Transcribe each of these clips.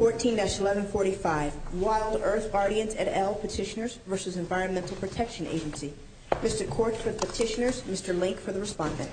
14-1145 WildEarth Guardians et al. Petitioners v. Environmental Protection Agency Mr. Quartz for the petitioners, Mr. Link for the respondent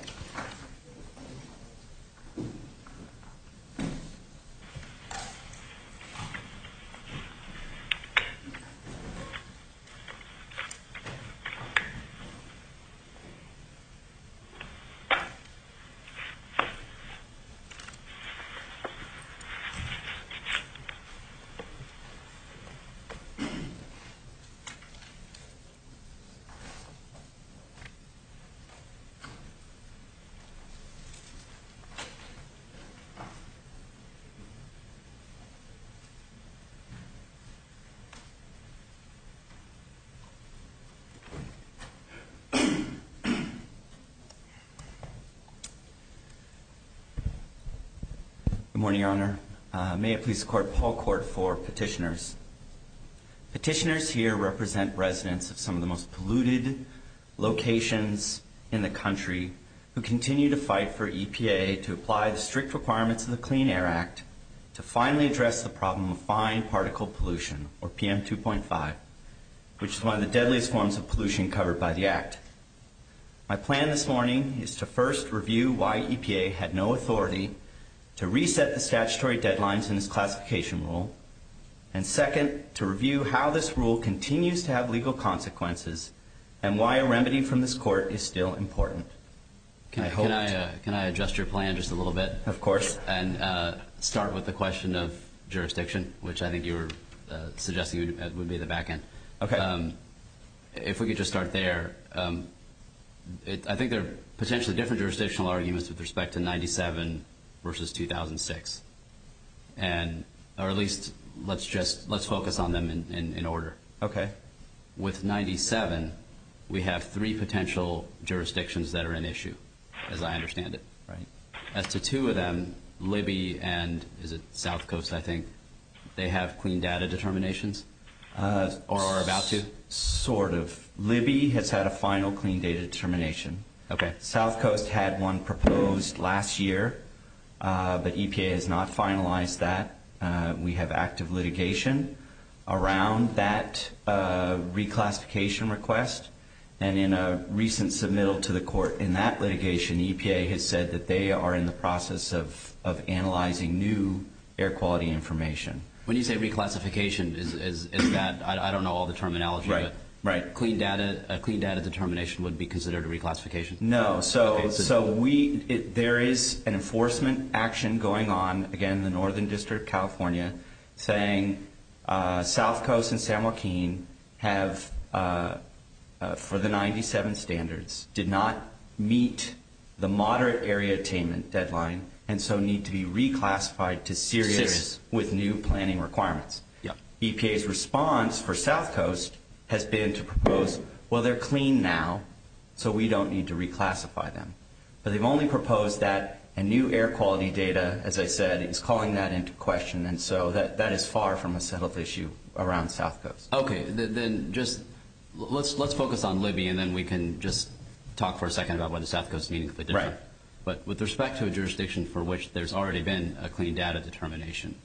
Good morning, Your Honor. May it please the Court, Paul Quartz for petitioners. Petitioners here represent residents of some of the most polluted locations in the country who continue to fight for EPA to apply the strict requirements of the Clean Air Act to finally address the problem of fine particle pollution, or PM 2.5, which is one of the deadliest forms of pollution covered by the Act. My plan this morning is to first review why EPA had no authority to reset the statutory deadlines in this classification rule, and second, to review how this rule continues to have legal consequences and why a remedy from this Court is still important. Can I adjust your plan just a little bit? Of course. And start with the question of jurisdiction, which I think you were suggesting would be the back end. If we could just start there. I think there are potentially different jurisdictional arguments with respect to 97 versus 2006, or at least let's focus on them in order. With 97, we have three potential jurisdictions that are an issue, as I understand it. As to two of them, Libby and, is it South Coast, I think, they have clean data determinations, or are about to? Sort of. Libby has had a final clean data determination. South Coast had one proposed last year, but EPA has not finalized that. We have active litigation around that reclassification request, and in a recent submittal to the Court in that litigation, EPA has said that they are in the process of analyzing new air quality information. When you say reclassification, is that, I don't know all the terminology, but a clean data determination would be considered a reclassification? No. There is an enforcement action going on, again, in the Northern District of California, saying South Coast and San Joaquin have, for the 97 standards, did not meet the moderate area attainment deadline, and so need to be reclassified to Syria with new planning requirements. EPA's response for South Coast has been to propose, well, they're clean now, so we don't need to reclassify them. But they've only proposed that a new air quality data, as I said, is calling that into question, and so that is far from a settled issue around South Coast. Okay, then just, let's focus on Libby, and then we can just talk for a second about whether South Coast is meaningfully different. Right. But with respect to a jurisdiction for which there's already been a clean data determination,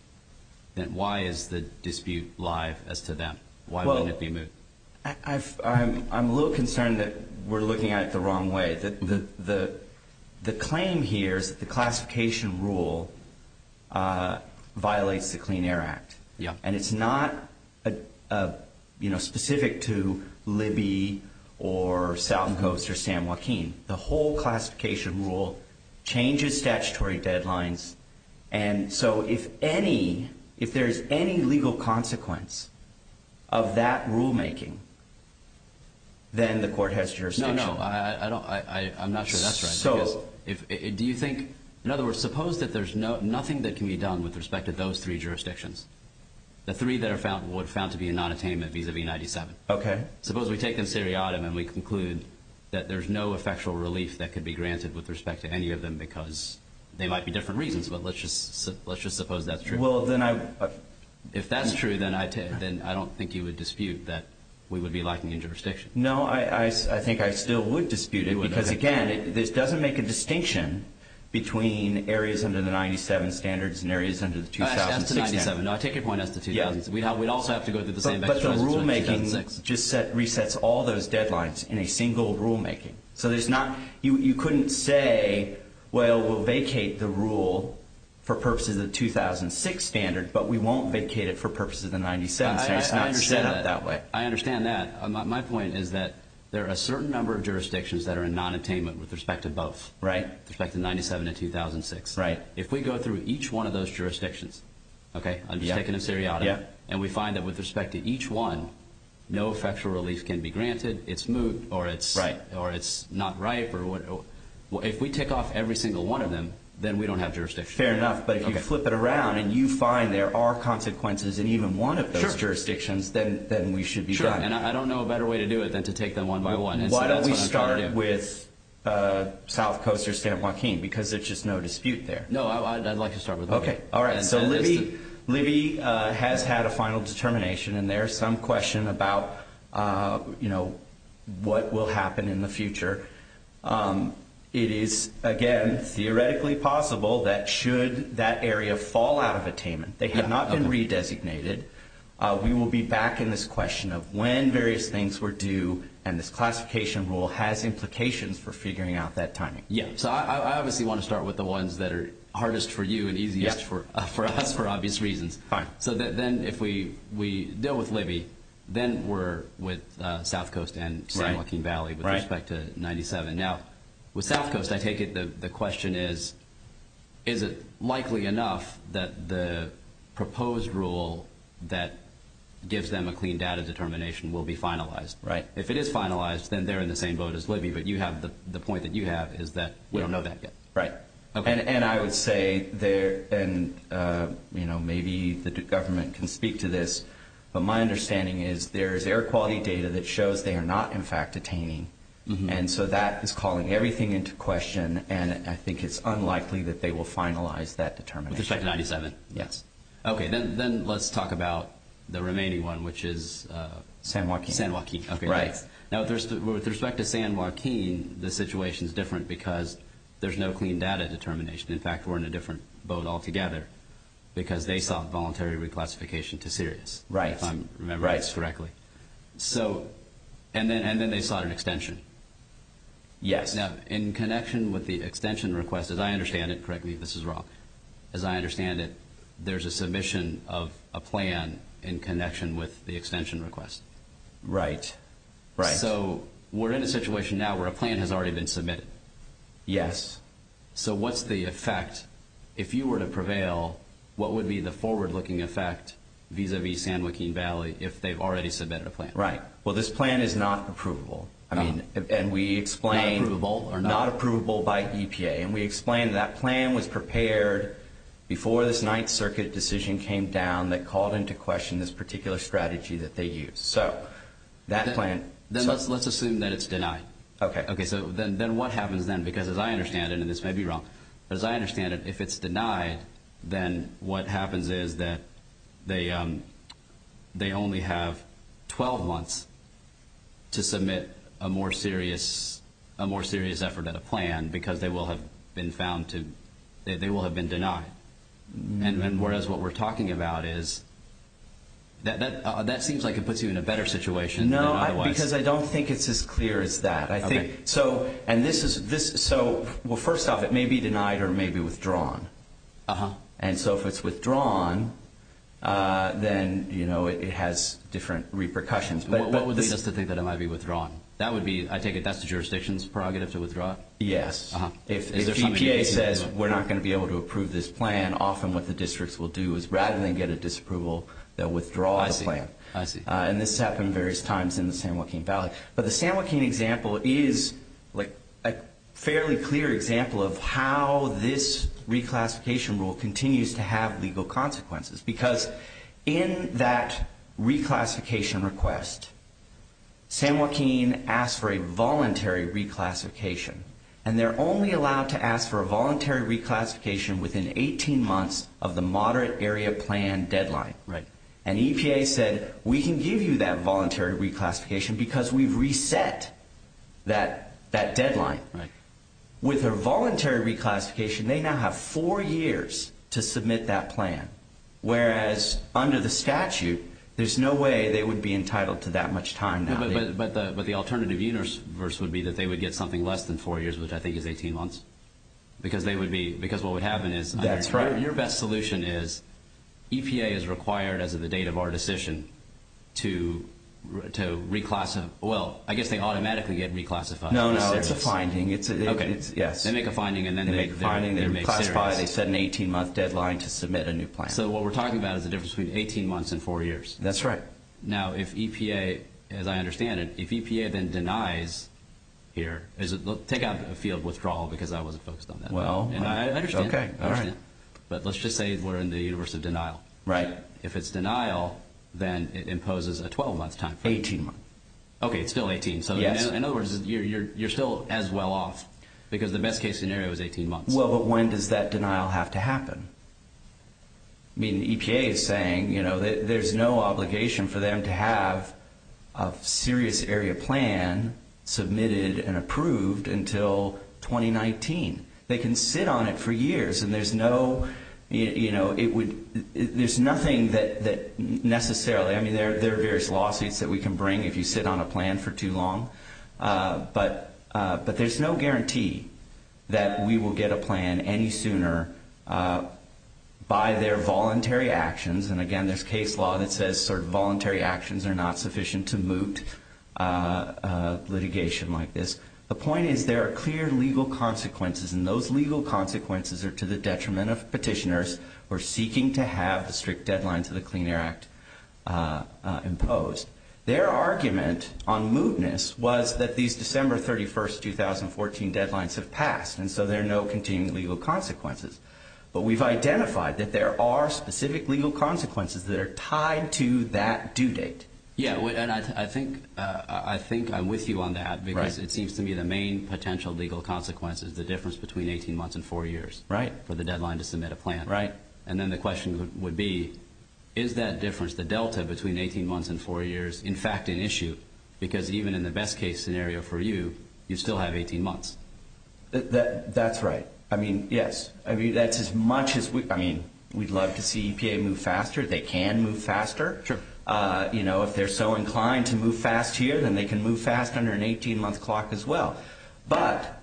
then why is the dispute live as to them? Why wouldn't it be moved? I'm a little concerned that we're looking at it the wrong way. The claim here is that the classification rule violates the Clean Air Act. Yeah. And it's not specific to Libby or South Coast or San Joaquin. The whole classification rule changes statutory deadlines, and so if there's any legal consequence of that rulemaking, then the court has jurisdiction. No, no, I'm not sure that's right. Do you think, in other words, suppose that there's nothing that can be done with respect to those three jurisdictions, the three that are found to be a non-attainment vis-a-vis 97. Okay. Suppose we take them seriatim and we conclude that there's no effectual relief that could be granted with respect to any of them because they might be different reasons, but let's just suppose that's true. Well, then I... If that's true, then I don't think you would dispute that we would be lacking in jurisdiction. No, I think I still would dispute it because, again, this doesn't make a distinction between areas under the 97 standards and areas under the 2006 standards. As to 97, no, I take your point as to 2000. We'd also have to go through the same exercise as in 2006. But the rulemaking just resets all those deadlines in a single rulemaking. So there's not... You couldn't say, well, we'll vacate the rule for purposes of the 2006 standard, but we won't vacate it for purposes of the 97. So it's not set up that way. I understand that. My point is that there are a certain number of jurisdictions that are in non-attainment with respect to both. Right. With respect to 97 and 2006. Right. If we go through each one of those jurisdictions, okay, I'm just taking them seriatim, and we find that with respect to each one, no effectual relief can be granted, it's moot or it's... Right. Or it's not ripe or what... If we take off every single one of them, then we don't have jurisdiction. Fair enough. But if you flip it around and you find there are consequences in even one of those jurisdictions, then we should be done. Sure. And I don't know a better way to do it than to take them one by one. Why don't we start with South Coast or San Joaquin? Because there's just no dispute there. No, I'd like to start with them. Okay. All right. So Libby has had a final determination, and there's some question about what will happen in the future. It is, again, theoretically possible that should that area fall out of attainment, they have not been re-designated, we will be back in this question of when various things were due, and this classification rule has implications for figuring out that timing. Yeah. So I obviously want to start with the ones that are hardest for you and easiest for us for obvious reasons. Fine. Then if we deal with Libby, then we're with South Coast and San Joaquin Valley with respect to 97. Now, with South Coast, I take it the question is, is it likely enough that the proposed rule that gives them a clean data determination will be finalized? Right. If it is finalized, then they're in the same vote as Libby, but the point that you have is that we don't know that yet. Right. And I would say there, and maybe the government can speak to this, but my understanding is there is air quality data that shows they are not in fact attaining, and so that is calling everything into question, and I think it's unlikely that they will finalize that determination. With respect to 97? Okay. Then let's talk about the remaining one, which is San Joaquin. San Joaquin. Okay. Right. Now, with respect to San Joaquin, the situation is different because there's no clean data determination. In fact, we're in a different vote altogether because they sought voluntary reclassification to Sirius. Right. If I'm remembering this correctly. So, and then they sought an extension. Yes. Now, in connection with the extension request, as I understand it, correct me if this is wrong, as I understand it, there's a submission of a plan in connection with the extension request. Right. Right. So, we're in a situation now where a plan has already been submitted. Yes. So, what's the effect? If you were to prevail, what would be the forward-looking effect vis-a-vis San Joaquin Valley if they've already submitted a plan? Right. Well, this plan is not approvable. I mean, and we explained... Not approvable or not... Not approvable by EPA. And we explained that plan was prepared before this Ninth Circuit decision came down that called into question this particular strategy that they use. So, that plan... Then let's assume that it's denied. Okay. Okay. Then what happens then? Because as I understand it, and this may be wrong, but as I understand it, if it's denied, then what happens is that they only have 12 months to submit a more serious effort at a plan because they will have been found to... They will have been denied. And whereas what we're talking about is... That seems like it puts you in a better situation. No, because I don't think it's as clear as that. I think... And this is... So, well, first off, it may be denied or may be withdrawn. And so if it's withdrawn, then it has different repercussions. What would lead us to think that it might be withdrawn? That would be... I take it that's the jurisdiction's prerogative to withdraw? Yes. If EPA says we're not going to be able to approve this plan, often what the districts will do is rather than get a disapproval, they'll withdraw the plan. I see. And this happened various times in the San Joaquin Valley. But the San Joaquin example is... A fairly clear example of how this reclassification rule continues to have legal consequences. Because in that reclassification request, San Joaquin asked for a voluntary reclassification. And they're only allowed to ask for a voluntary reclassification within 18 months of the moderate area plan deadline. Right. And EPA said, we can give you that voluntary reclassification because we've reset that deadline. Right. With their voluntary reclassification, they now have four years to submit that plan. Whereas under the statute, there's no way they would be entitled to that much time now. But the alternative universe would be that they would get something less than four years, which I think is 18 months. Because they would be... Because what would happen is... That's right. Your best solution is EPA is required, as of the date of our decision, to reclassify... Well, I guess they automatically get reclassified. No, no. It's a finding. It's a... Okay. Yes. They make a finding and then... They make a finding. They reclassify. They set an 18-month deadline to submit a new plan. So what we're talking about is the difference between 18 months and four years. That's right. Now, if EPA... As I understand it, if EPA then denies here... Take out the field withdrawal because I wasn't focused on that. Well... And I understand that. Okay. All right. But let's just say we're in the universe of denial. Right. If it's denial, then it imposes a 12-month time frame. 18 months. Okay. It's still 18. Yes. In other words, you're still as well off because the best case scenario is 18 months. Well, but when does that denial have to happen? I mean, EPA is saying there's no obligation for them to have a serious area plan submitted and approved until 2019. They can sit on it for years and there's no... You know, it would... There's nothing that necessarily... I mean, there are various lawsuits that we can bring if you sit on a plan for too long. But there's no guarantee that we will get a plan any sooner by their voluntary actions. And again, there's case law that says sort of voluntary actions are not sufficient to moot litigation like this. The point is there are clear legal consequences and those legal consequences are to the detriment of petitioners who are seeking to have the strict deadlines of the Clean Air Act imposed. Their argument on mootness was that these December 31st, 2014 deadlines have passed and so there are no continuing legal consequences. But we've identified that there are specific legal consequences that are tied to that due date. Yeah, and I think I'm with you on that because it seems to me the main potential legal consequence is the difference between 18 months and four years, right? For the deadline to submit a plan, right? And then the question would be, is that difference, the delta between 18 months and four years in fact an issue? Because even in the best case scenario for you, you still have 18 months. That's right. I mean, yes. I mean, that's as much as we... I mean, we'd love to see EPA move faster. They can move faster. You know, if they're so inclined to move fast here then they can move fast under an 18 month clock as well. But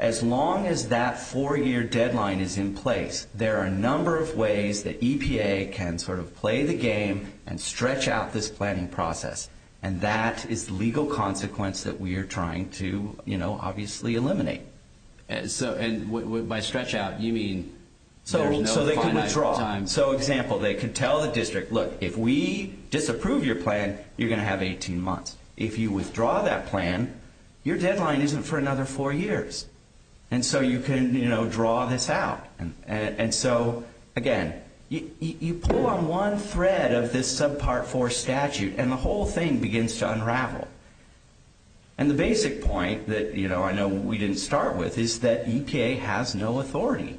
as long as that four year deadline is in place, there are a number of ways that EPA can sort of play the game and stretch out this planning process. And that is the legal consequence that we are trying to, you know, obviously eliminate. So, and by stretch out, you mean... So they can withdraw. So example, they can tell the district, look, if we disapprove your plan, you're going to have 18 months. If you withdraw that plan, your deadline isn't for another four years. And so you can, you know, draw this out. And so again, you pull on one thread of this subpart four statute and the whole thing begins to unravel. And the basic point that, you know, I know we didn't start with is that EPA has no authority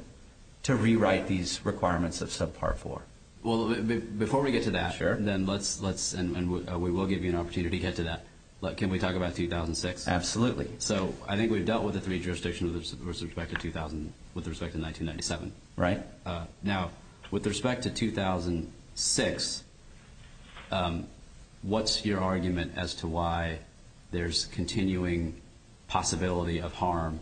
to rewrite these requirements of subpart four. Well, before we get to that, then let's, and we will give you an opportunity to get to that. Can we talk about 2006? Absolutely. So I think we've dealt with the three jurisdictions with respect to 1997. Right. Now, with respect to 2006, what's your argument as to why there's continuing possibility of harm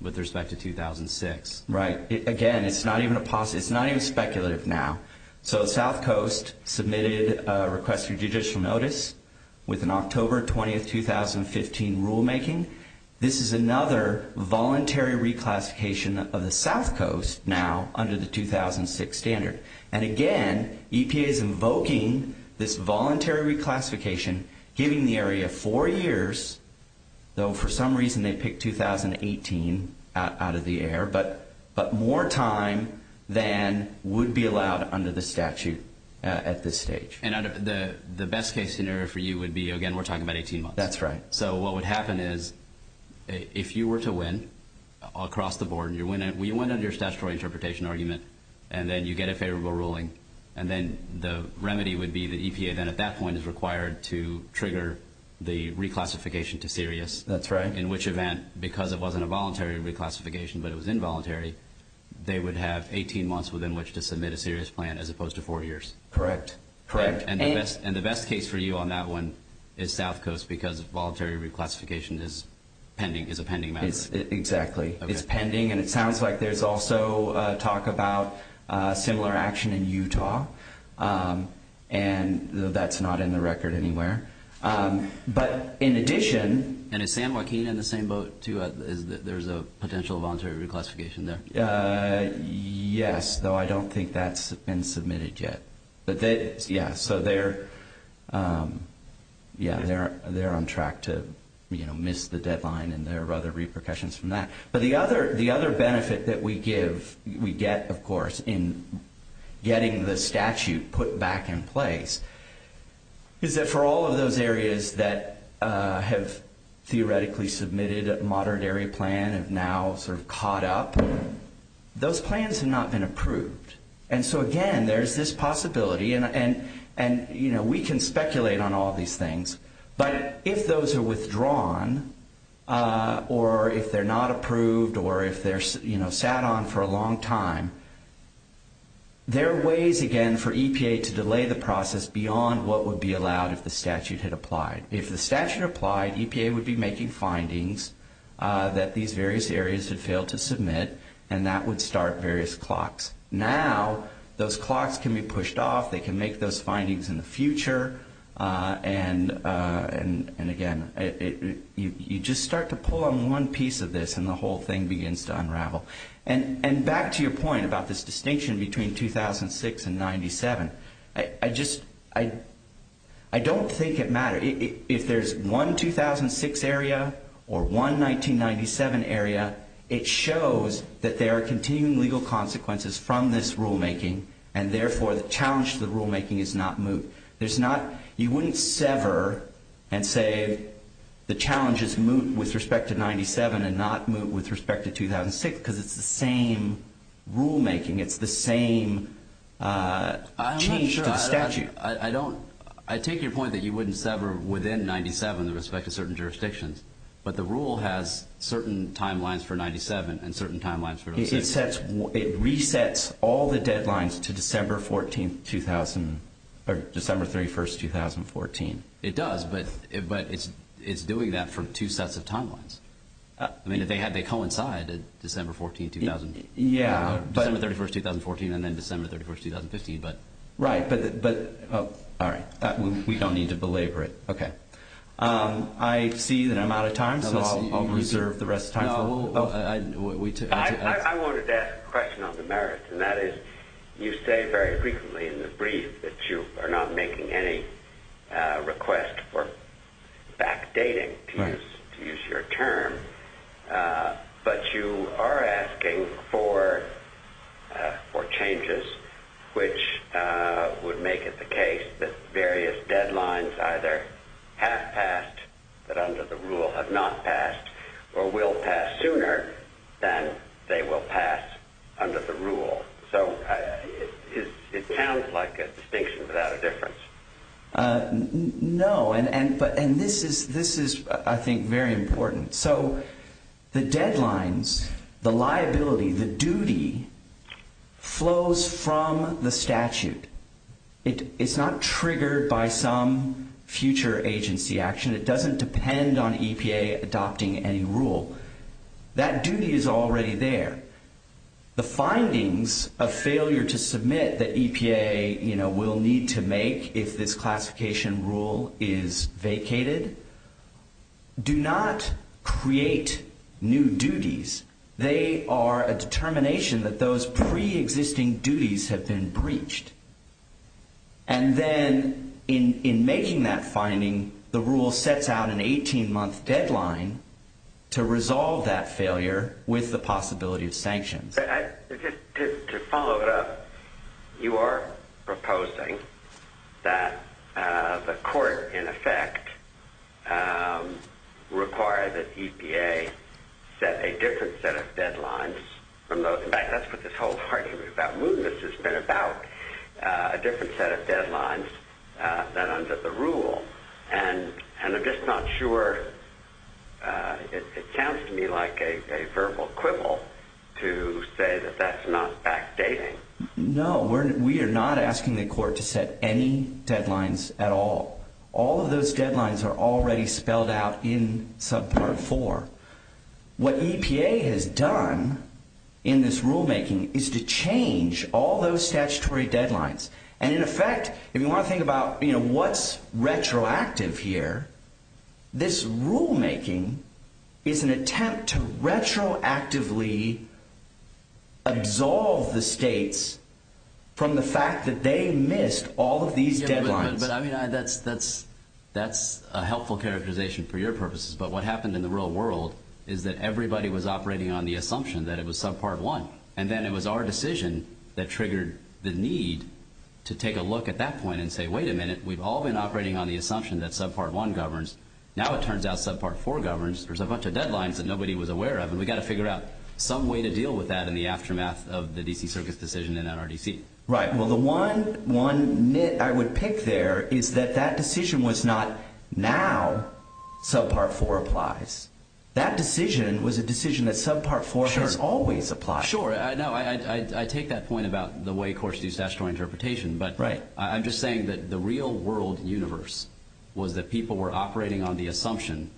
with respect to 2006? Right. Again, it's not even a possibility. It's not even speculative now. So South Coast submitted a request for judicial notice with an October 20th, 2015 rulemaking. This is another voluntary reclassification of the South Coast now under the 2006 standard. And again, EPA is invoking this voluntary reclassification, giving the area four years, though for some reason they picked 2018 out of the air, but more time than would be allowed under the statute at this stage. And the best case scenario for you would be, again, we're talking about 18 months. That's right. So what would happen is, if you were to win across the board and you win under your statutory interpretation argument, and then you get a favorable ruling, and then the remedy would be the EPA then at that point is required to trigger the reclassification to serious. That's right. In which event, because it wasn't a voluntary reclassification, but it was involuntary, they would have 18 months within which to submit a serious plan as opposed to four years. Correct. Correct. And the best case for you on that one is South Coast because of voluntary reclassification is a pending matter. Exactly. It's pending. And it sounds like there's also talk about similar action in Utah. And that's not in the record anywhere. But in addition... And is San Joaquin in the same boat too? There's a potential voluntary reclassification there. Yes, though I don't think that's been submitted yet. Yeah, so they're on track to miss the deadline and there are other repercussions from that. But the other benefit that we get, of course, in getting the statute put back in place is that for all of those areas that have theoretically submitted a modern area plan have now sort of caught up, those plans have not been approved. And so again, there's this possibility and we can speculate on all these things. But if those are withdrawn or if they're not approved or if they're sat on for a long time, there are ways again for EPA to delay the process beyond what would be allowed if the statute had applied. If the statute applied, EPA would be making findings that these various areas had failed to submit and that would start various clocks. Now, those clocks can be pushed off, they can make those findings in the future. And again, you just start to pull on one piece of this and the whole thing begins to unravel. And back to your point about this distinction between 2006 and 97, I don't think it matters. If there's one 2006 area or one 1997 area, it shows that there are continuing legal consequences from this rulemaking and therefore the challenge to the rulemaking is not moot. There's not, you wouldn't sever and say the challenge is moot with respect to 97 and not moot with respect to 2006 because it's the same rulemaking, it's the same change to the statute. I'm not sure, I don't, I take your point that you wouldn't sever within 97 but the rule has certain timelines for 97 and certain timelines for 06. It resets all the deadlines to December 14th, 2000, or December 31st, 2014. It does but it's doing that for two sets of timelines. I mean, they coincide, December 14th, 2000. Yeah. December 31st, 2014 and then December 31st, 2015 but. Right but, all right, we don't need to belabor it. Okay, I see that I'm out of time so I'll reserve the rest of time. Well, I wanted to ask a question on the merits and that is you say very frequently in the brief that you are not making any request for backdating to use your term but you are asking for changes which would make it the case that various deadlines either have passed but under the rule have not passed or will pass sooner than they will pass under the rule. So it sounds like a distinction without a difference. No, and this is, I think, very important. So the deadlines, the liability, the duty flows from the statute. It's not triggered by some future agency action. It doesn't depend on EPA adopting any rule. That duty is already there. The findings of failure to submit that EPA will need to make if this classification rule is vacated do not create new duties. They are a determination that those pre-existing duties have been breached and then in making that finding, the rule sets out an 18-month deadline to resolve that failure with the possibility of sanctions. To follow it up, you are proposing that the court in effect require that EPA set a different set of deadlines. In fact, that's what this whole argument about movements than under the rule. And I'm just not sure. It sounds to me like a verbal quibble to say that that's not backdating. No, we are not asking the court to set any deadlines at all. All of those deadlines are already spelled out in subpart 4. What EPA has done in this rulemaking is to change all those statutory deadlines. And in effect, if you want to think about, what's retroactive here, this rulemaking is an attempt to retroactively absolve the states from the fact that they missed all of these deadlines. But I mean, that's a helpful characterization for your purposes. But what happened in the real world is that everybody was operating on the assumption that it was subpart 1. And then it was our decision that triggered the need to take a look at that point and say, wait a minute, we've all been operating on the assumption that subpart 1 governs. Now it turns out subpart 4 governs. There's a bunch of deadlines that nobody was aware of. And we've got to figure out some way to deal with that in the aftermath of the D.C. Circus decision in NRDC. Right, well, the one nit I would pick there is that that decision was not, now subpart 4 applies. That decision was a decision that subpart 4 has always applied. Sure, I know. I take that point about the way courts do statutory interpretation. But I'm just saying that the real world universe was that people were operating on the assumption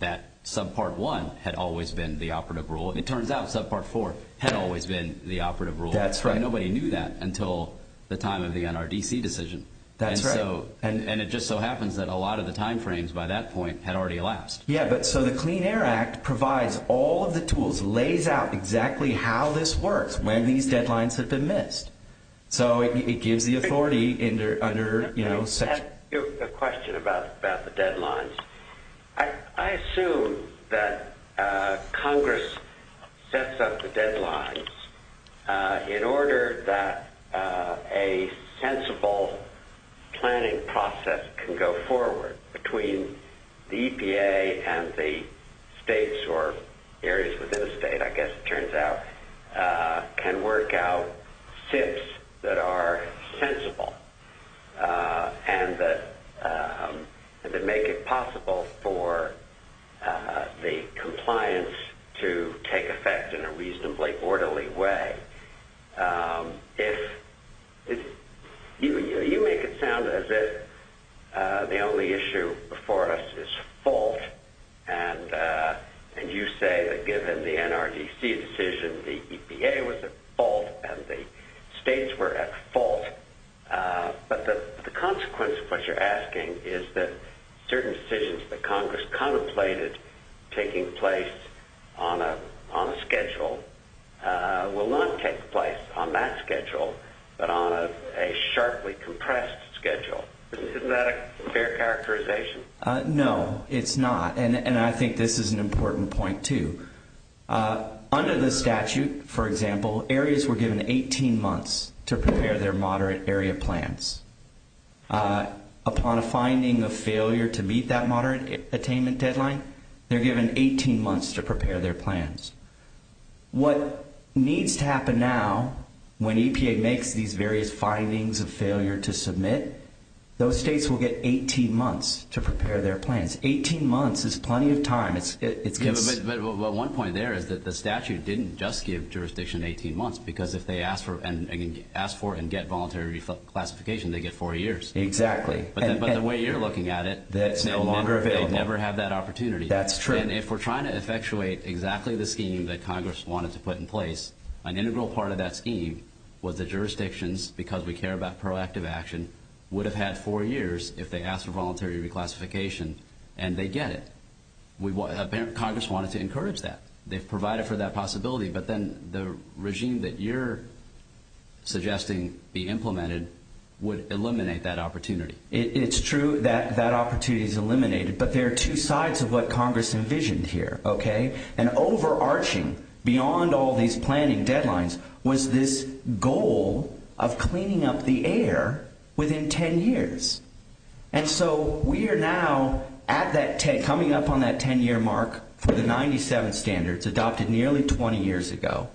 that subpart 1 had always been the operative rule. And it turns out subpart 4 had always been the operative rule. That's right. Nobody knew that until the time of the NRDC decision. That's right. And it just so happens that a lot of the time frames by that point had already elapsed. Yeah, but so the Clean Air Act provides all of the tools, lays out exactly how this works, when these deadlines have been missed. So it gives the authority under, you know, I have a question about the deadlines. I assume that Congress sets up the deadlines in order that a sensible planning process can go forward between the EPA and the states or areas within the state, I guess it turns out, can work out tips that are sensible and that make it possible for the compliance to take effect in a reasonably orderly way. If you make it sound as if the only issue before us is fault, and you say that given the NRDC decision, the EPA was at fault and the states were at fault. But the consequence of what you're asking is that certain decisions that Congress contemplated taking place on a schedule will not take place on that schedule, but on a sharply compressed schedule. Isn't that a fair characterization? No, it's not. And I think this is an important point too. Under the statute, for example, areas were given 18 months to prepare their moderate area plans. Upon a finding of failure to meet that moderate attainment deadline, they're given 18 months to prepare their plans. What needs to happen now when EPA makes these various findings of failure to submit, those states will get 18 months to prepare their plans. 18 months is plenty of time. But one point there is that the statute didn't just give jurisdiction 18 months because if they ask for and get voluntary reclassification, they get four years. Exactly. But the way you're looking at it, that's no longer available. They never have that opportunity. That's true. And if we're trying to effectuate exactly the scheme that Congress wanted to put in place, an integral part of that scheme was the jurisdictions, because we care about proactive action, would have had four years if they asked for voluntary reclassification and they get it. Apparently Congress wanted to encourage that. They've provided for that possibility. But then the regime that you're suggesting be implemented would eliminate that opportunity. It's true that that opportunity is eliminated, but there are two sides of what Congress envisioned here, okay? And overarching beyond all these planning deadlines was this goal of cleaning up the air within 10 years. And so we are now at that 10, coming up on that 10-year mark for the 97 standards adopted nearly 20 years ago.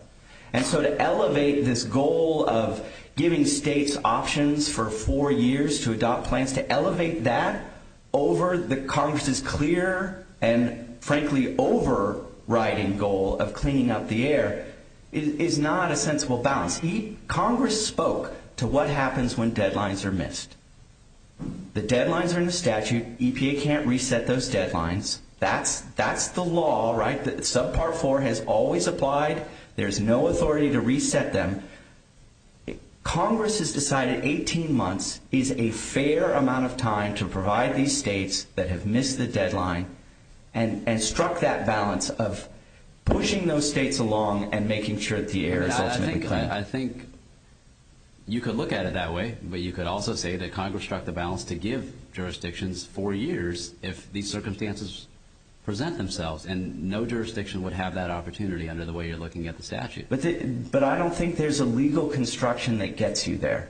And so to elevate this goal of giving states options for four years to adopt plans, to elevate that over the Congress's clear and frankly overriding goal of cleaning up the air is not a sensible balance. The deadlines are in the statute. EPA can't reset those deadlines. That's the law, right? Subpart four has always applied. There's no authority to reset them. Congress has decided 18 months is a fair amount of time to provide these states that have missed the deadline and struck that balance of pushing those states along and making sure that the air is ultimately cleaned. I think you could look at it that way, but you could also say that Congress struck the balance to give jurisdictions four years if these circumstances present themselves and no jurisdiction would have that opportunity under the way you're looking at the statute. But I don't think there's a legal construction that gets you there.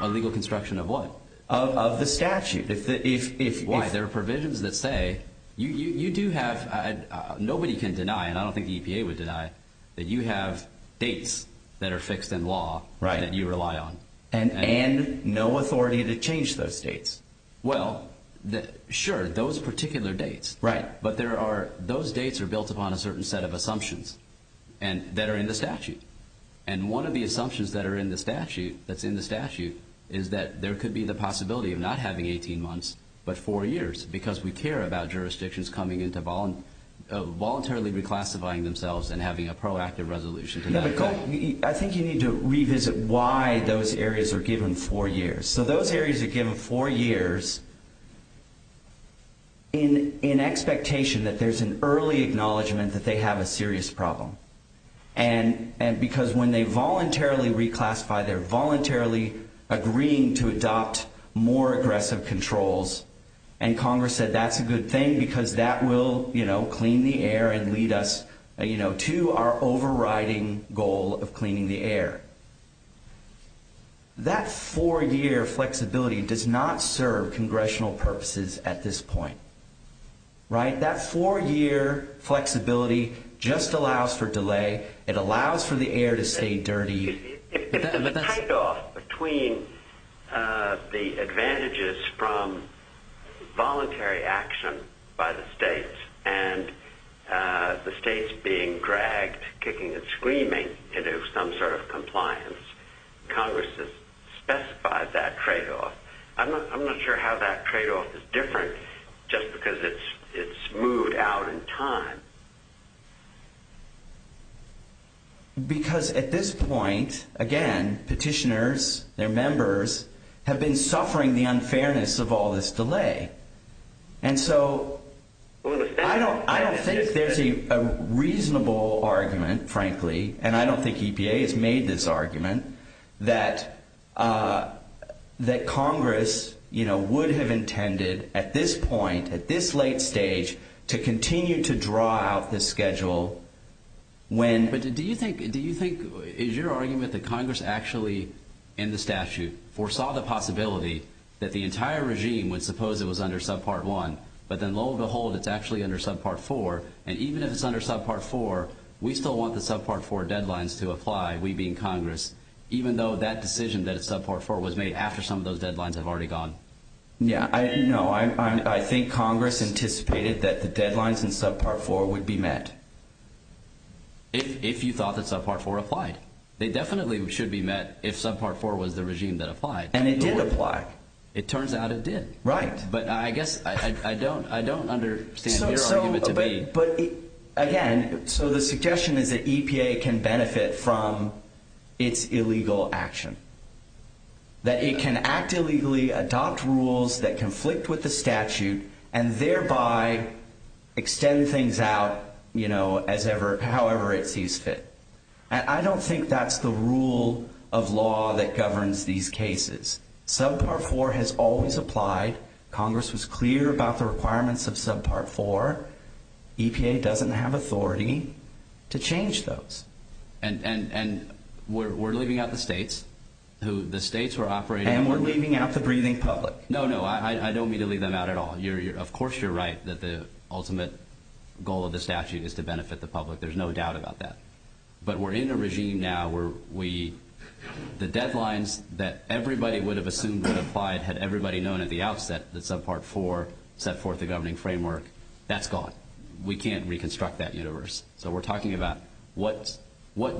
A legal construction of what? Of the statute. If there are provisions that say you do have, nobody can deny, and I don't think the EPA would deny, that you have dates that are fixed in law that you rely on. And no authority to change those dates. Well, sure, those particular dates. Those dates are built upon a certain set of assumptions that are in the statute. And one of the assumptions that are in the statute that's in the statute is that there could be the possibility of not having 18 months, but four years, because we care about jurisdictions and having a proactive resolution. I think you need to revisit why those areas are given four years. So those areas are given four years in expectation that there's an early acknowledgement that they have a serious problem. And because when they voluntarily reclassify, they're voluntarily agreeing to adopt more aggressive controls. And Congress said that's a good thing because that will clean the air and lead us to our overriding goal of cleaning the air. That four-year flexibility does not serve congressional purposes at this point. Right? That four-year flexibility just allows for delay. It allows for the air to stay dirty. If the type off between the advantages from voluntary action by the states kicking and screaming to do some sort of compliance, Congress has specified that trade-off. I'm not sure how that trade-off is different just because it's moved out in time. Because at this point, again, petitioners, their members have been suffering the unfairness of all this delay. And so I don't think there's a reasonable argument, frankly, and I don't think EPA has made this argument, that Congress would have intended at this point, at this late stage, to continue to draw out this schedule when... But do you think, is your argument that Congress actually, in the statute, foresaw the possibility that the entire regime would suppose it was under Subpart 1, but then lo and behold, it's actually under Subpart 4, and even if it's under Subpart 4, we still want the Subpart 4 deadlines to apply, we being Congress, even though that decision that it's Subpart 4 was made after some of those deadlines have already gone? Yeah, no, I think Congress anticipated that the deadlines in Subpart 4 would be met. If you thought that Subpart 4 applied. They definitely should be met if Subpart 4 was the regime that applied. And it did apply. It turns out it did. Right. But I guess I don't understand your argument to be... But again, so the suggestion is that EPA can benefit from its illegal action. That it can act illegally, adopt rules that conflict with the statute, and thereby extend things out, however it sees fit. And I don't think that's the rule of law that governs these cases. Subpart 4 has always applied. Congress was clear about the requirements of Subpart 4. EPA doesn't have authority to change those. And we're leaving out the states who... The states were operating... And we're leaving out the breathing public. No, no, I don't mean to leave them out at all. Of course, you're right that the ultimate goal of the statute is to benefit the public. There's no doubt about that. But we're in a regime now where we... The deadlines that everybody would have assumed would apply had everybody known at the outset that Subpart 4 set forth the governing framework. That's gone. We can't reconstruct that universe. So we're talking about what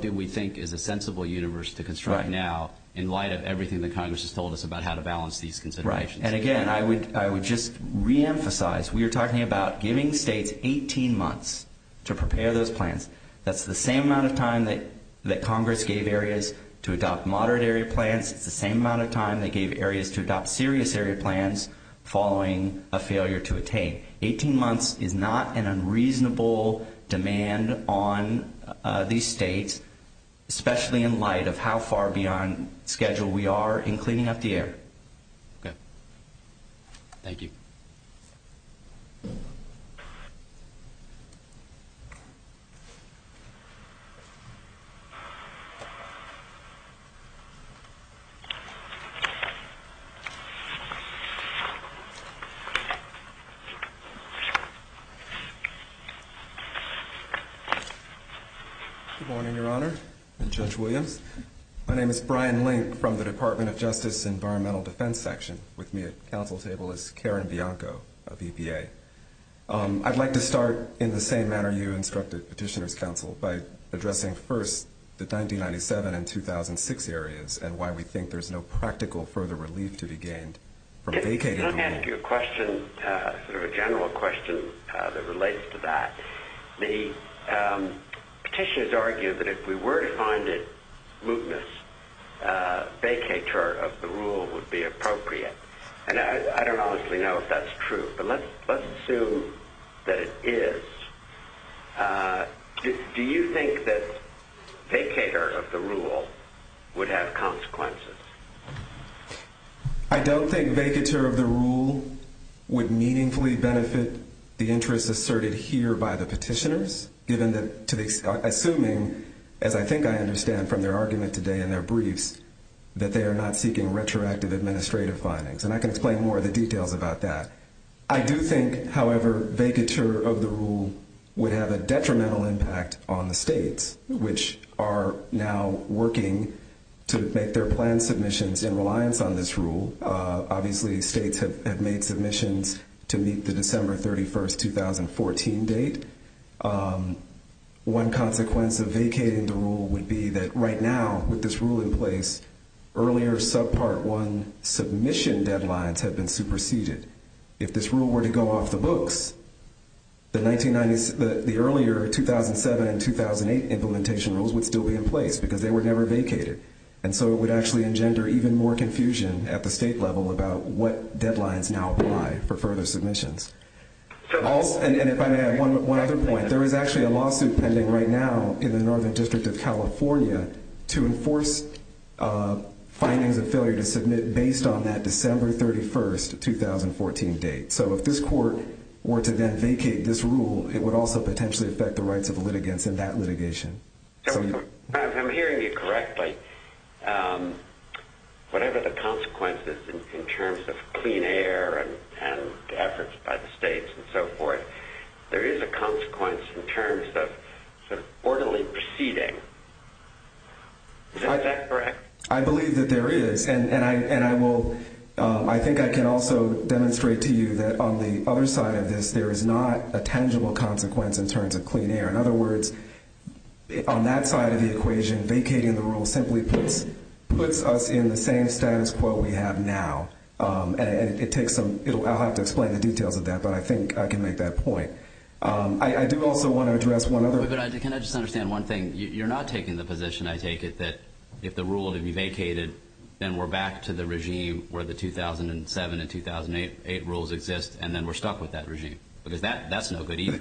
do we think is a sensible universe to construct now in light of everything that Congress has told us about how to balance these considerations? And again, I would just re-emphasize, we are talking about giving states 18 months to prepare those plans. That's the same amount of time that Congress gave areas to adopt moderate area plans. It's the same amount of time they gave areas to adopt serious area plans following a failure to attain. 18 months is not an unreasonable demand on these states, especially in light of how far beyond schedule we are in cleaning up the air. Okay. Thank you. Good morning, Your Honor and Judge Williams. My name is Brian Link from the Department of Justice Environmental Defense Section. With me at council table is Karen Bianco of EPA. I'd like to start in the same manner you instructed Petitioner's counsel by addressing first the 1997 and 2006 areas and why we think there's no practical further relief to be gained from vacating- Let me ask you a question, sort of a general question that relates to that. The petitioners argue that if we were to find it mootness vacatur of the rule would be appropriate. And I don't honestly know if that's true, but let's assume that it is. Do you think that vacatur of the rule would have consequences? I don't think vacatur of the rule would meaningfully benefit the interests asserted here by the petitioners, given that, assuming, as I think I understand from their argument today in their briefs, that they are not seeking retroactive administrative findings. And I can explain more of the details about that. I do think, however, vacatur of the rule would have a detrimental impact on the states, which are now working to make their plan submissions in reliance on this rule. Obviously, states have made submissions to meet the December 31st, 2014 date. One consequence of vacating the rule would be that right now, with this rule in place, earlier Subpart 1 submission deadlines have been superseded. If this rule were to go off the books, the earlier 2007 and 2008 implementation rules would still be in place because they were never vacated. And so it would actually engender even more confusion at the state level about what deadlines now apply for further submissions. And if I may add one other point, there is actually a lawsuit pending right now in the Northern District of California to enforce findings of failure to submit based on that December 31st, 2014 date. So if this court were to then vacate this rule, it would also potentially affect the rights of the litigants in that litigation. So if I'm hearing you correctly, whatever the consequences in terms of clean air and efforts by the states and so forth, there is a consequence in terms of orderly proceeding. Is that correct? I believe that there is. And I think I can also demonstrate to you that on the other side of this, there is not a tangible consequence in terms of clean air. In other words, on that side of the equation, vacating the rule simply puts us in the same status quo we have now. And I'll have to explain the details of that, but I think I can make that point. I do also want to address one other- Can I just understand one thing? You're not taking the position, I take it, that if the rule would be vacated, then we're back to the regime where the 2007 and 2008 rules exist, and then we're stuck with that regime. Because that's no good either.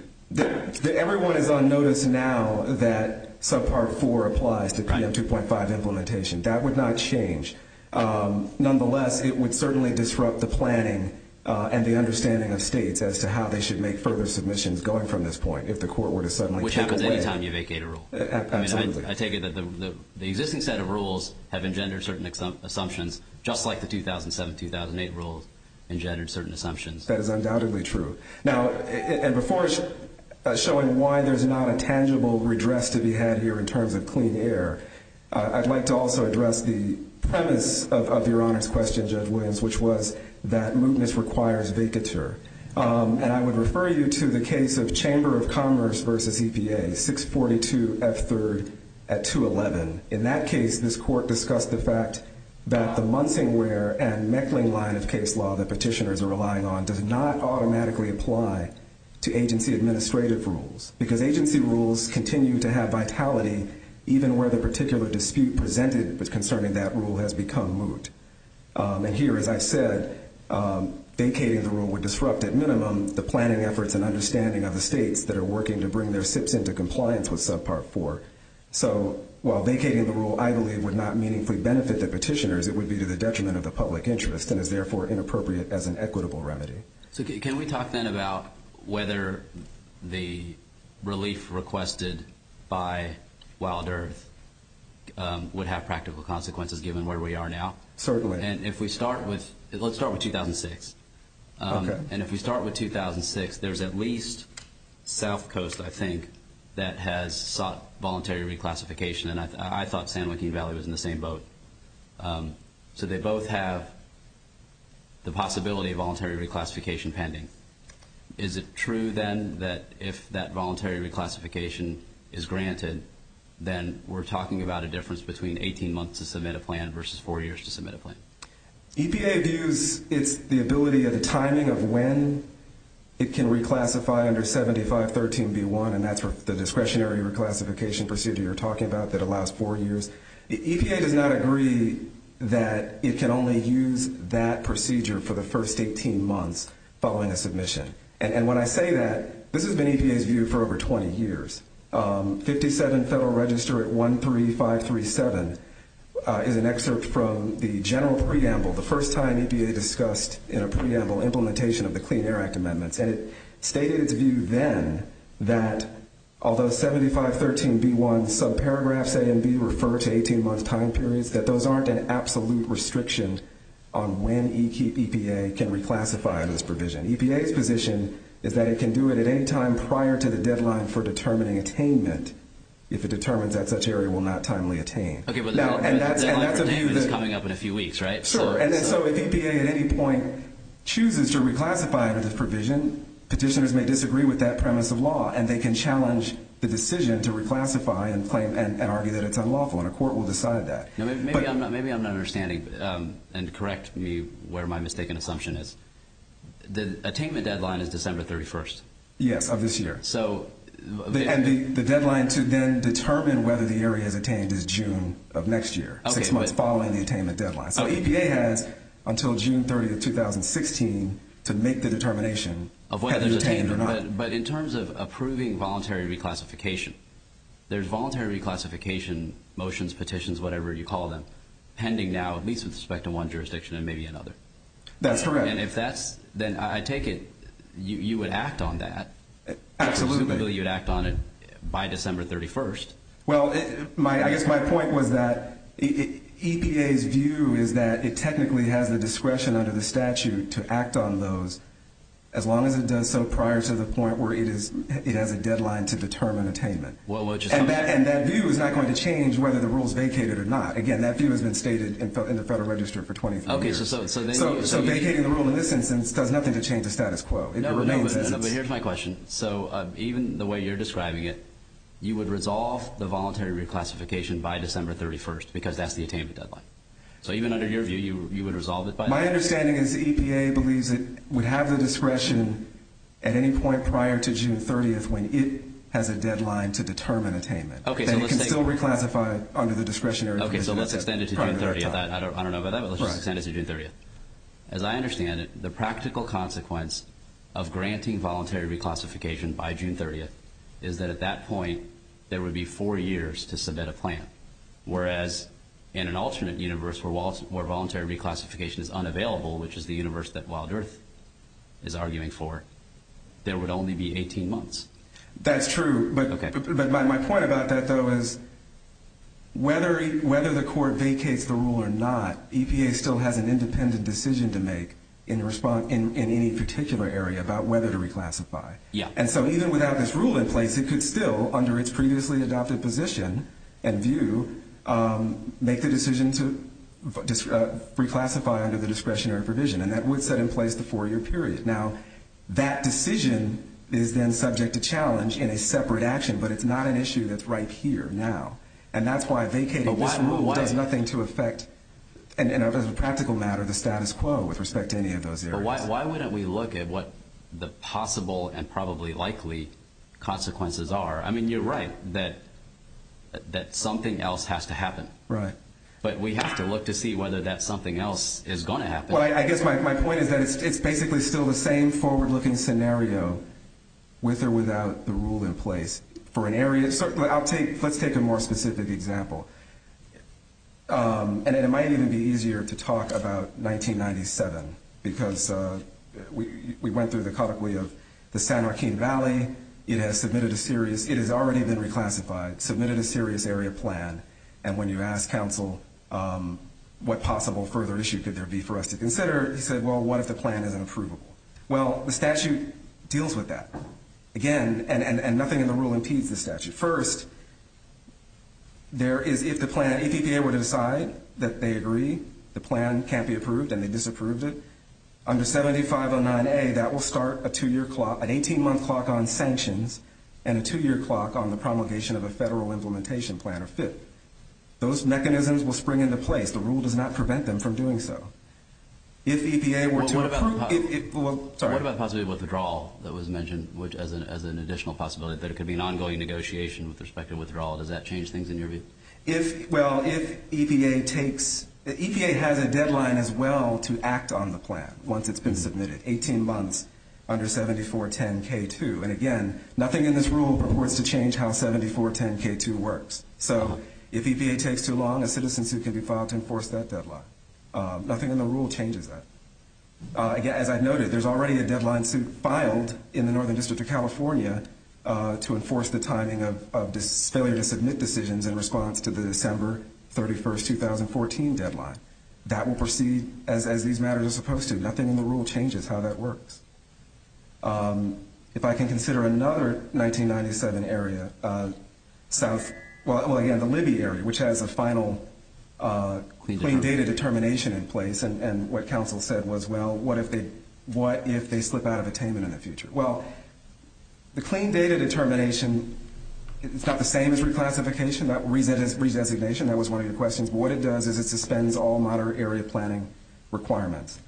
Everyone is on notice now that subpart four applies to PM 2.5 implementation. That would not change. Nonetheless, it would certainly disrupt the planning and the understanding of states as to how they should make further submissions going from this point if the court were to suddenly take away- Which happens anytime you vacate a rule. Absolutely. I take it that the existing set of rules have engendered certain assumptions, just like the 2007-2008 rules engendered certain assumptions. That is undoubtedly true. Now, and before showing why there's not a tangible redress to be had here in terms of clean air, I'd like to also address the premise of Your Honor's question, Judge Williams, which was that mootness requires vacateur. And I would refer you to the case of Chamber of Commerce versus EPA, 642 F. 3rd at 211. In that case, this court discussed the fact that the Munsingware and Meckling line of case law that petitioners are relying on does not automatically apply to agency administrative rules. Because agency rules continue to have vitality even where the particular dispute presented concerning that rule has become moot. And here, as I said, vacating the rule would disrupt at minimum the planning efforts and understanding of the states that are working to bring their SIPs into compliance with Subpart 4. So while vacating the rule, I believe would not meaningfully benefit the petitioners, it would be to the detriment of the public interest and is therefore inappropriate as an equitable remedy. So can we talk then about whether the relief requested by Wild Earth would have practical consequences given where we are now? Certainly. And if we start with, let's start with 2006. Okay. And if we start with 2006, there's at least South Coast, I think, that has sought voluntary reclassification. And I thought San Joaquin Valley was in the same boat. So they both have the possibility of voluntary reclassification pending. Is it true then that if that voluntary reclassification is granted, then we're talking about a difference between 18 months to submit a plan versus four years to submit a plan? EPA views it's the ability of the timing of when it can reclassify under 7513B1, and that's the discretionary reclassification procedure you're talking about that allows four years. EPA does not agree that it can only use that procedure for the first 18 months following a submission. And when I say that, this has been EPA's view for over 20 years. 57 Federal Register at 13537 is an excerpt from the general preamble, the first time EPA discussed in a preamble implementation of the Clean Air Act amendments. And it stated its view then that although 7513B1 subparagraphs A and B refer to 18 months time periods, that those aren't an absolute restriction on when EPA can reclassify this provision. EPA's position is that it can do it at any time prior to the deadline for determining attainment if it determines that such area will not timely attain. Okay, but the deadline for attainment is coming up in a few weeks, right? Sure, and so if EPA at any point chooses to reclassify under this provision, petitioners may disagree with that premise of law, and they can challenge the decision to reclassify and claim and argue that it's unlawful, and a court will decide that. Now, maybe I'm not understanding, and correct me where my mistaken assumption is. Yes, of this year. And the deadline to then determine whether the area is attained is June of next year, six months following the attainment deadline. So EPA has until June 30th, 2016 to make the determination of whether it's attained or not. But in terms of approving voluntary reclassification, there's voluntary reclassification motions, petitions, whatever you call them, pending now, at least with respect to one jurisdiction and maybe another. That's correct. And if that's, then I take it you would act on that. Absolutely. You would act on it by December 31st. Well, I guess my point was that EPA's view is that it technically has the discretion under the statute to act on those as long as it does so prior to the point where it has a deadline to determine attainment. And that view is not going to change whether the rule is vacated or not. Again, that view has been stated in the Federal Register for 24 years. OK, so vacating the rule in this instance does nothing to change the status quo. It remains the same. But here's my question. So even the way you're describing it, you would resolve the voluntary reclassification by December 31st because that's the attainment deadline. So even under your view, you would resolve it by then? My understanding is the EPA believes it would have the discretion at any point prior to June 30th when it has a deadline to determine attainment. OK, so let's take it. Then you can still reclassify under the discretionary provision prior to that time. OK, so let's extend it to June 30th. I don't know about that, but let's just extend it to June 30th. As I understand it, the practical consequence of granting voluntary reclassification by June 30th is that at that point, there would be four years to submit a plan, whereas in an alternate universe where voluntary reclassification is unavailable, which is the universe that Wild Earth is arguing for, there would only be 18 months. That's true. But my point about that, though, is whether the court vacates the rule or not, EPA still has an independent decision to make in any particular area about whether to reclassify. And so even without this rule in place, it could still, under its previously adopted position and view, make the decision to reclassify under the discretionary provision, and that would set in place the four-year period. Now, that decision is then subject to challenge in a separate action, but it's not an issue that's right here now. And that's why vacating this rule does nothing to affect, in a practical matter, the status quo with respect to any of those areas. But why wouldn't we look at what the possible and probably likely consequences are? I mean, you're right that something else has to happen. Right. But we have to look to see whether that something else is going to happen. Well, I guess my point is that it's basically still the same forward-looking scenario with or without the rule in place for an area. Let's take a more specific example. And it might even be easier to talk about 1997 because we went through the colloquy of the San Joaquin Valley. It has submitted a serious, it has already been reclassified, submitted a serious area plan. And when you ask counsel, what possible further issue could there be for us to consider? He said, well, what if the plan is unapprovable? Well, the statute deals with that. Again, and nothing in the rule impedes the statute. First, there is, if the plan, if EPA were to decide that they agree, the plan can't be approved and they disapproved it, under 7509A, that will start a two-year clock, an 18-month clock on sanctions and a two-year clock on the promulgation of a federal implementation plan or FIT. Those mechanisms will spring into place. The rule does not prevent them from doing so. If EPA were to approve it, well, sorry. What about possibly withdrawal that was mentioned, which as an additional possibility that it could be an ongoing negotiation with respect to withdrawal? Does that change things in your view? If, well, if EPA takes, EPA has a deadline as well to act on the plan once it's been submitted, 18 months under 7410K2. And again, nothing in this rule purports to change how 7410K2 works. So if EPA takes too long, a citizen suit could be filed to enforce that deadline. Nothing in the rule changes that. As I've noted, there's already a deadline suit filed in the Northern District of California to enforce the timing of failure to submit decisions in response to the December 31st, 2014 deadline. That will proceed as these matters are supposed to. Nothing in the rule changes how that works. If I can consider another 1997 area, South, well, again, the Libby area, which has a final clean data determination in place. And what council said was, well, what if they slip out of attainment in the future? Well, the clean data determination, it's not the same as reclassification. Redesignation, that was one of your questions. What it does is it suspends all moderate area planning requirements.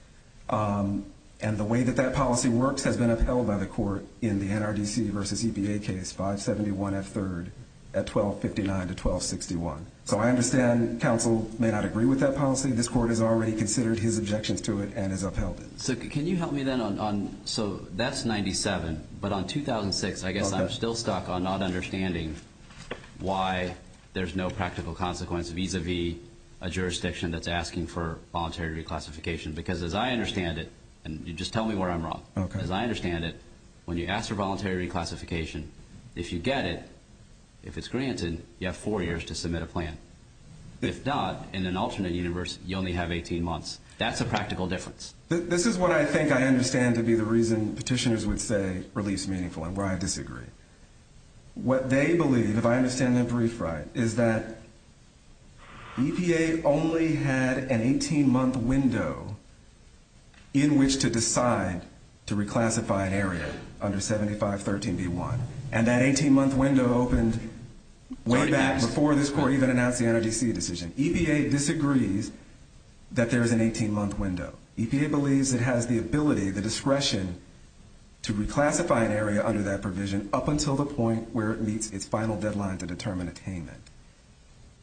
And the way that that policy works has been upheld by the court in the NRDC versus EPA case 571F3 at 1259 to 1261. So I understand council may not agree with that policy. This court has already considered his objections to it and has upheld it. So can you help me then on, so that's 97, but on 2006, I guess I'm still stuck on not understanding why there's no practical consequence vis-a-vis a jurisdiction that's asking for voluntary reclassification. Because as I understand it, and you just tell me where I'm wrong, as I understand it, when you ask for voluntary reclassification, if you get it, if it's granted, you have four years to submit a plan. If not, in an alternate universe, you only have 18 months. That's a practical difference. This is what I think I understand to be the reason petitioners would say relief's meaningful and why I disagree. What they believe, if I understand them brief right, is that EPA only had an 18-month window in which to decide to reclassify an area under 7513B1. And that 18-month window opened way back before this court even announced the NRDC decision. EPA disagrees that there is an 18-month window. EPA believes it has the ability, the discretion to reclassify an area under that provision up until the point where it meets its final deadline to determine attainment.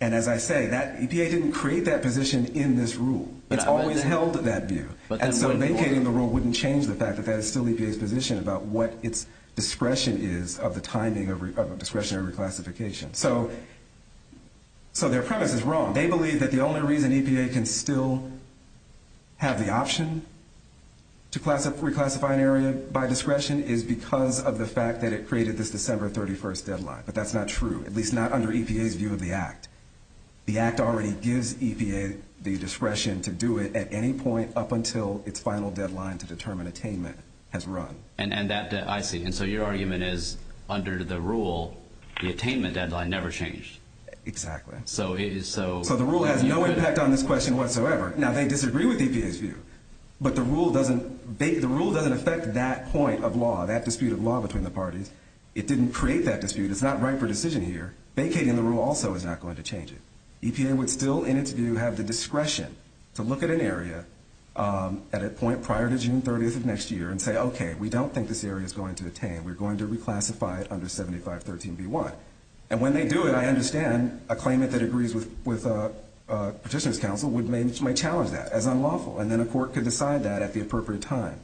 And as I say, EPA didn't create that position in this rule. It's always held that view. And so vacating the rule wouldn't change the fact that that is still EPA's position about what its discretion is of the timing of discretionary reclassification. So their premise is wrong. They believe that the only reason EPA can still have the option to reclassify an area by discretion is because of the fact that it created this December 31st deadline. But that's not true, at least not under EPA's view of the act. The act already gives EPA the discretion to do it at any point up until its final deadline to determine attainment has run. And that, I see. And so your argument is under the rule, the attainment deadline never changed. Exactly. So it is so... So the rule has no impact on this question whatsoever. Now they disagree with EPA's view, but the rule doesn't affect that point of law, that dispute of law between the parties. It didn't create that dispute. It's not right for decision here. Vacating the rule also is not going to change it. EPA would still, in its view, have the discretion to look at an area at a point prior to June 30th of next year and say, okay, we don't think this area is going to attain. We're going to reclassify it under 7513B1. And when they do it, I understand a claimant that agrees with a petitioner's counsel would challenge that as unlawful. And then a court could decide that at the appropriate time.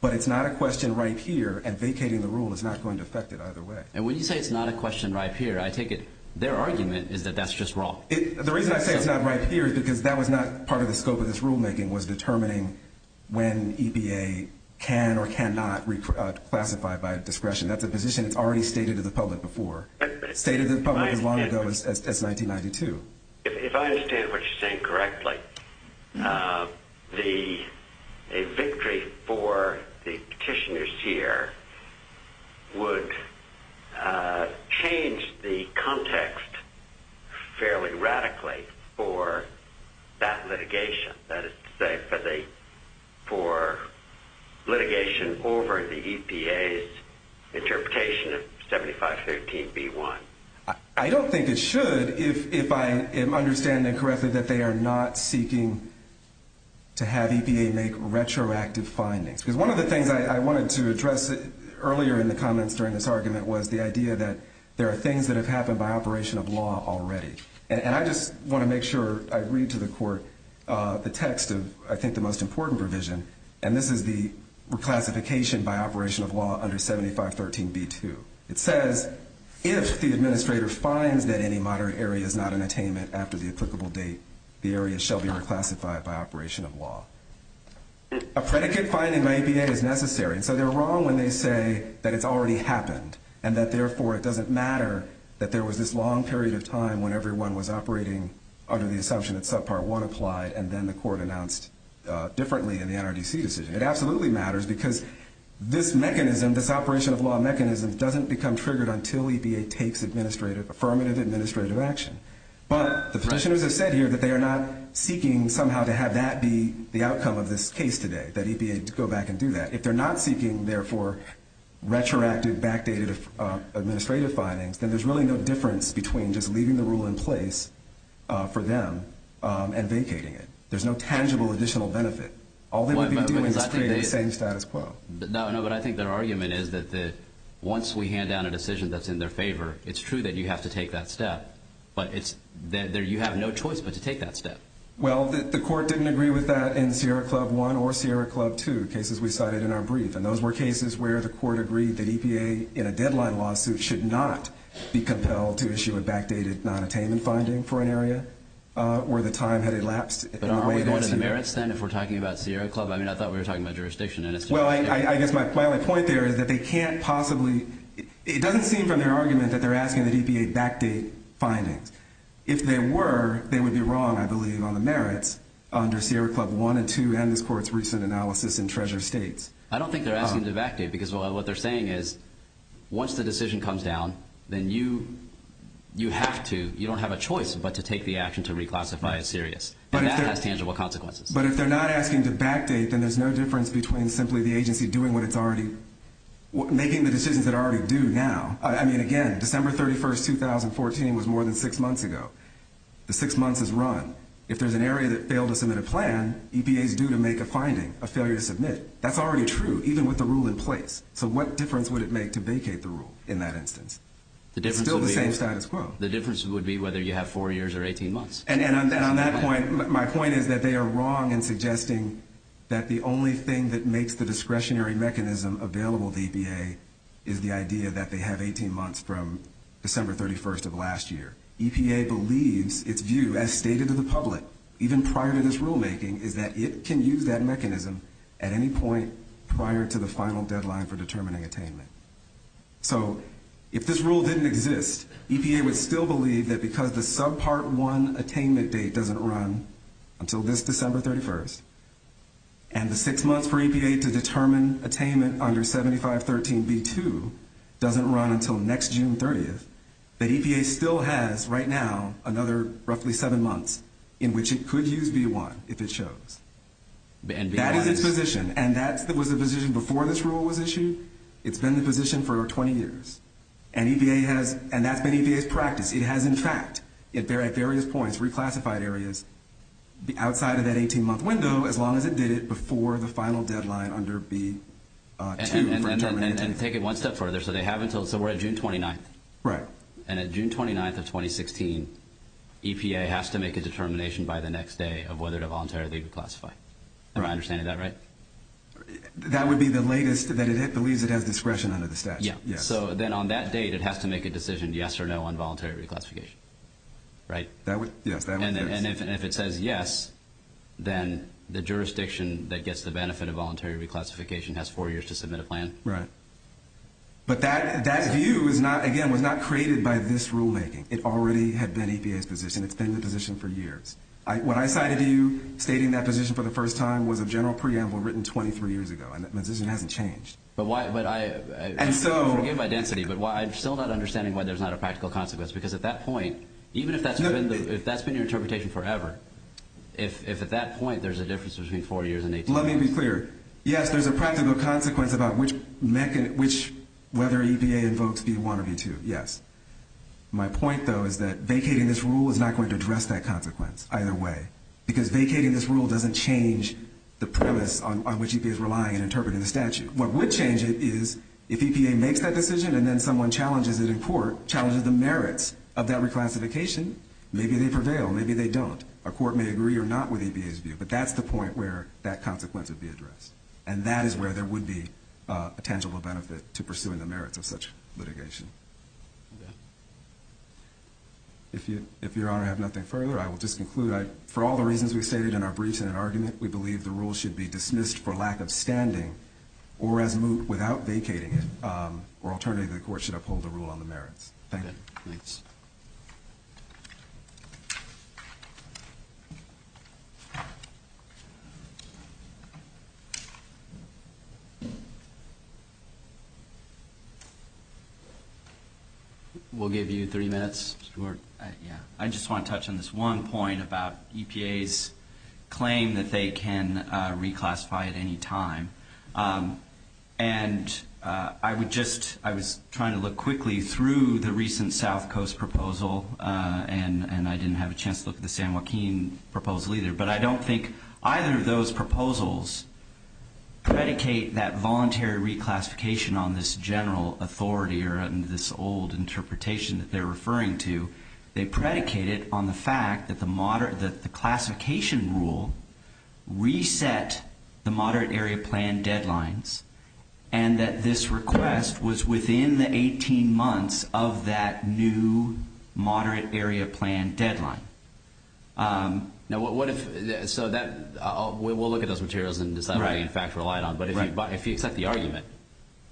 But it's not a question right here, and vacating the rule is not going to affect it either way. And when you say it's not a question right here, I take it their argument is that that's just wrong. The reason I say it's not right here is because that was not part of the scope of this rulemaking was determining when EPA can or cannot reclassify by discretion. That's a position that's already stated to the public before. Stated to the public as long ago as 1992. If I understand what you're saying correctly, that a victory for the petitioners here would change the context fairly radically for that litigation. That is to say for litigation over the EPA's interpretation of 7513B1. I don't think it should, if I am understanding correctly, that they are not seeking to have EPA make retroactive findings. Because one of the things I wanted to address earlier in the comments during this argument was the idea that there are things that have happened by operation of law already. And I just want to make sure I read to the court the text of, I think, the most important provision. And this is the reclassification by operation of law under 7513B2. It says, if the administrator finds that any moderate area is not an attainment after the applicable date, the area shall be reclassified by operation of law. A predicate finding by EPA is necessary. And so they're wrong when they say that it's already happened and that therefore it doesn't matter that there was this long period of time when everyone was operating under the assumption that subpart one applied and then the court announced differently in the NRDC decision. It absolutely matters because this mechanism, this operation of law mechanism doesn't become triggered until EPA takes affirmative administrative action. But the petitioners have said here that they are not seeking somehow to have that be the outcome of this case today, that EPA go back and do that. If they're not seeking, therefore, retroactive backdated administrative findings, then there's really no difference between just leaving the rule in place for them and vacating it. There's no tangible additional benefit. All they would be doing is creating the same status quo. No, no, but I think their argument is that once we hand down a decision that's in their favor, it's true that you have to take that step. But you have no choice but to take that step. Well, the court didn't agree with that in Sierra Club 1 or Sierra Club 2, cases we cited in our brief. And those were cases where the court agreed that EPA, in a deadline lawsuit, should not be compelled to issue a backdated non-attainment finding for an area where the time had elapsed. But aren't we going to the merits then if we're talking about Sierra Club? I mean, I thought we were talking about jurisdiction. Well, I guess my only point there is that they can't possibly... It doesn't seem from their argument that they're asking the EPA to backdate findings. If they were, they would be wrong, I believe, on the merits under Sierra Club 1 and 2 and this court's recent analysis in Treasure States. I don't think they're asking to backdate because what they're saying is once the decision comes down, then you have to, you don't have a choice, but to take the action to reclassify as serious. And that has tangible consequences. But if they're not asking to backdate, then there's no difference between simply the agency doing what it's already... Making the decisions that already do now. I mean, again, December 31st, 2014, was more than six months ago. The six months is run. If there's an area that failed to submit a plan, EPA is due to make a finding, a failure to submit. That's already true, even with the rule in place. So what difference would it make to vacate the rule in that instance? It's still the same status quo. The difference would be whether you have four years or 18 months. And on that point, my point is that they are wrong in suggesting that the only thing that makes the discretionary mechanism available to EPA is the idea that they have 18 months from December 31st of last year. EPA believes its view, as stated to the public, even prior to this rulemaking, is that it can use that mechanism at any point prior to the final deadline for determining attainment. So if this rule didn't exist, EPA would still believe that because the subpart one attainment date doesn't run until this December 31st, and the six months for EPA to determine attainment under 7513B2 doesn't run until next June 30th, that EPA still has, right now, another roughly seven months in which it could use B1 if it shows. That is its position. And that was the position before this rule was issued. It's been the position for 20 years. And that's been EPA's practice. It has, in fact, at various points, reclassified areas outside of that 18-month window as long as it did it before the final deadline under B2 for determining attainment. And take it one step further. So they have until, so we're at June 29th. Right. And at June 29th of 2016, EPA has to make a determination by the next day of whether to voluntarily reclassify. Am I understanding that right? That would be the latest, that it believes it has discretion under the statute. Yeah. So then on that date, it has to make a decision, yes or no, on voluntary reclassification, right? That would, yes, that would, yes. And if it says yes, then the jurisdiction that gets the benefit of voluntary reclassification has four years to submit a plan. Right. But that view is not, again, was not created by this rulemaking. It already had been EPA's position. It's been the position for years. What I cited to you, stating that position for the first time, was a general preamble written 23 years ago. And that position hasn't changed. But why, but I, forgive my density, but I'm still not understanding why there's not a practical consequence. Because at that point, even if that's been your interpretation forever, if at that point there's a difference between four years and 18 months. Let me be clear. Yes, there's a practical consequence about whether EPA invokes B1 or B2. Yes. My point, though, is that vacating this rule is not going to address that consequence either way. Because vacating this rule doesn't change the premise on which EPA is relying and interpreting the statute. What would change it is if EPA makes that decision and then someone challenges it in court, challenges the merits of that reclassification, maybe they prevail, maybe they don't. A court may agree or not with EPA's view. But that's the point where that consequence would be addressed. And that is where there would be a tangible benefit to pursuing the merits of such litigation. If Your Honor have nothing further, I will just conclude. For all the reasons we stated in our briefs and in argument, we believe the rule should be dismissed for lack of standing or as moot without vacating it. Or alternatively, the court should uphold the rule on the merits. Thank you. We'll give you 30 minutes. I just want to touch on this one point about EPA's claim that they can reclassify at any time. And I would just, I was trying to look quickly through the recent South Coast proposal and I didn't have a chance to look at the San Joaquin proposal either. But I don't think either of those proposals predicate that voluntary reclassification on this general authority or this old interpretation that they're referring to. They predicate it on the fact that the classification rule reset the moderate area plan deadlines and that this request was within the 18 months of that new moderate area plan deadline. Now, what if, so we'll look at those materials and decide what they in fact relied on. But if you accept the argument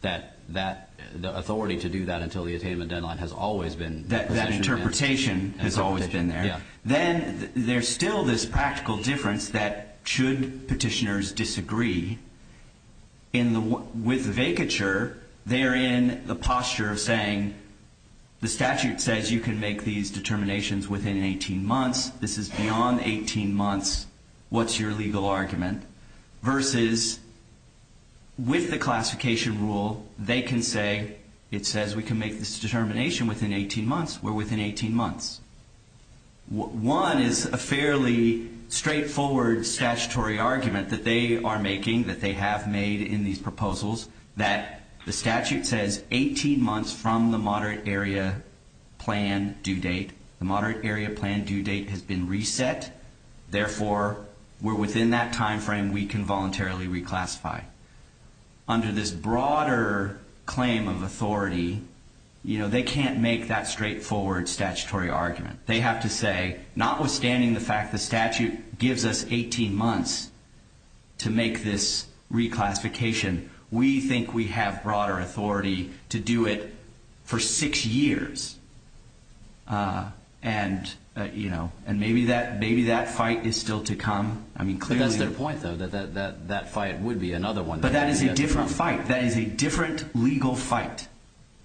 that the authority to do that until the attainment deadline has always been... That interpretation has always been there. Then there's still this practical difference that should petitioners disagree with vacature, they're in the posture of saying the statute says you can make these determinations within 18 months. This is beyond 18 months. What's your legal argument? Versus with the classification rule, they can say, it says we can make this determination within 18 months. We're within 18 months. One is a fairly straightforward statutory argument that they are making, that they have made in these proposals that the statute says 18 months from the moderate area plan due date, the moderate area plan due date has been reset. Therefore, we're within that timeframe, we can voluntarily reclassify. Under this broader claim of authority, they can't make that straightforward statutory argument. They have to say, notwithstanding the fact the statute gives us 18 months to make this reclassification, we think we have broader authority to do it for six years. And maybe that fight is still to come. That's their point though, that that fight would be another one. But that is a different fight. That is a different legal fight,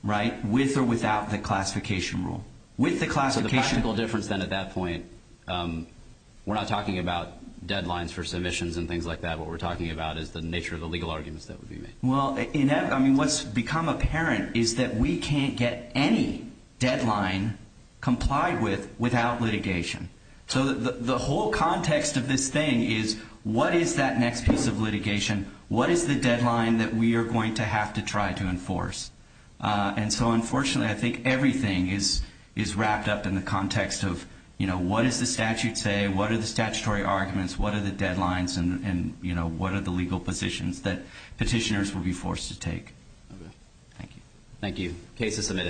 right, with or without the classification rule. With the classification. So the practical difference then at that point, we're not talking about deadlines for submissions and things like that. What we're talking about is the nature of the legal arguments that would be made. Well, I mean, what's become apparent is that we can't get any deadline complied with without litigation. So the whole context of this thing is what is that next piece of litigation? What is the deadline that we are going to have to try to enforce? And so unfortunately, I think everything is wrapped up in the context of, you know, what does the statute say? What are the statutory arguments? What are the deadlines? And, you know, what are the legal positions that petitioners will be forced to take? Thank you. Thank you. Case is submitted.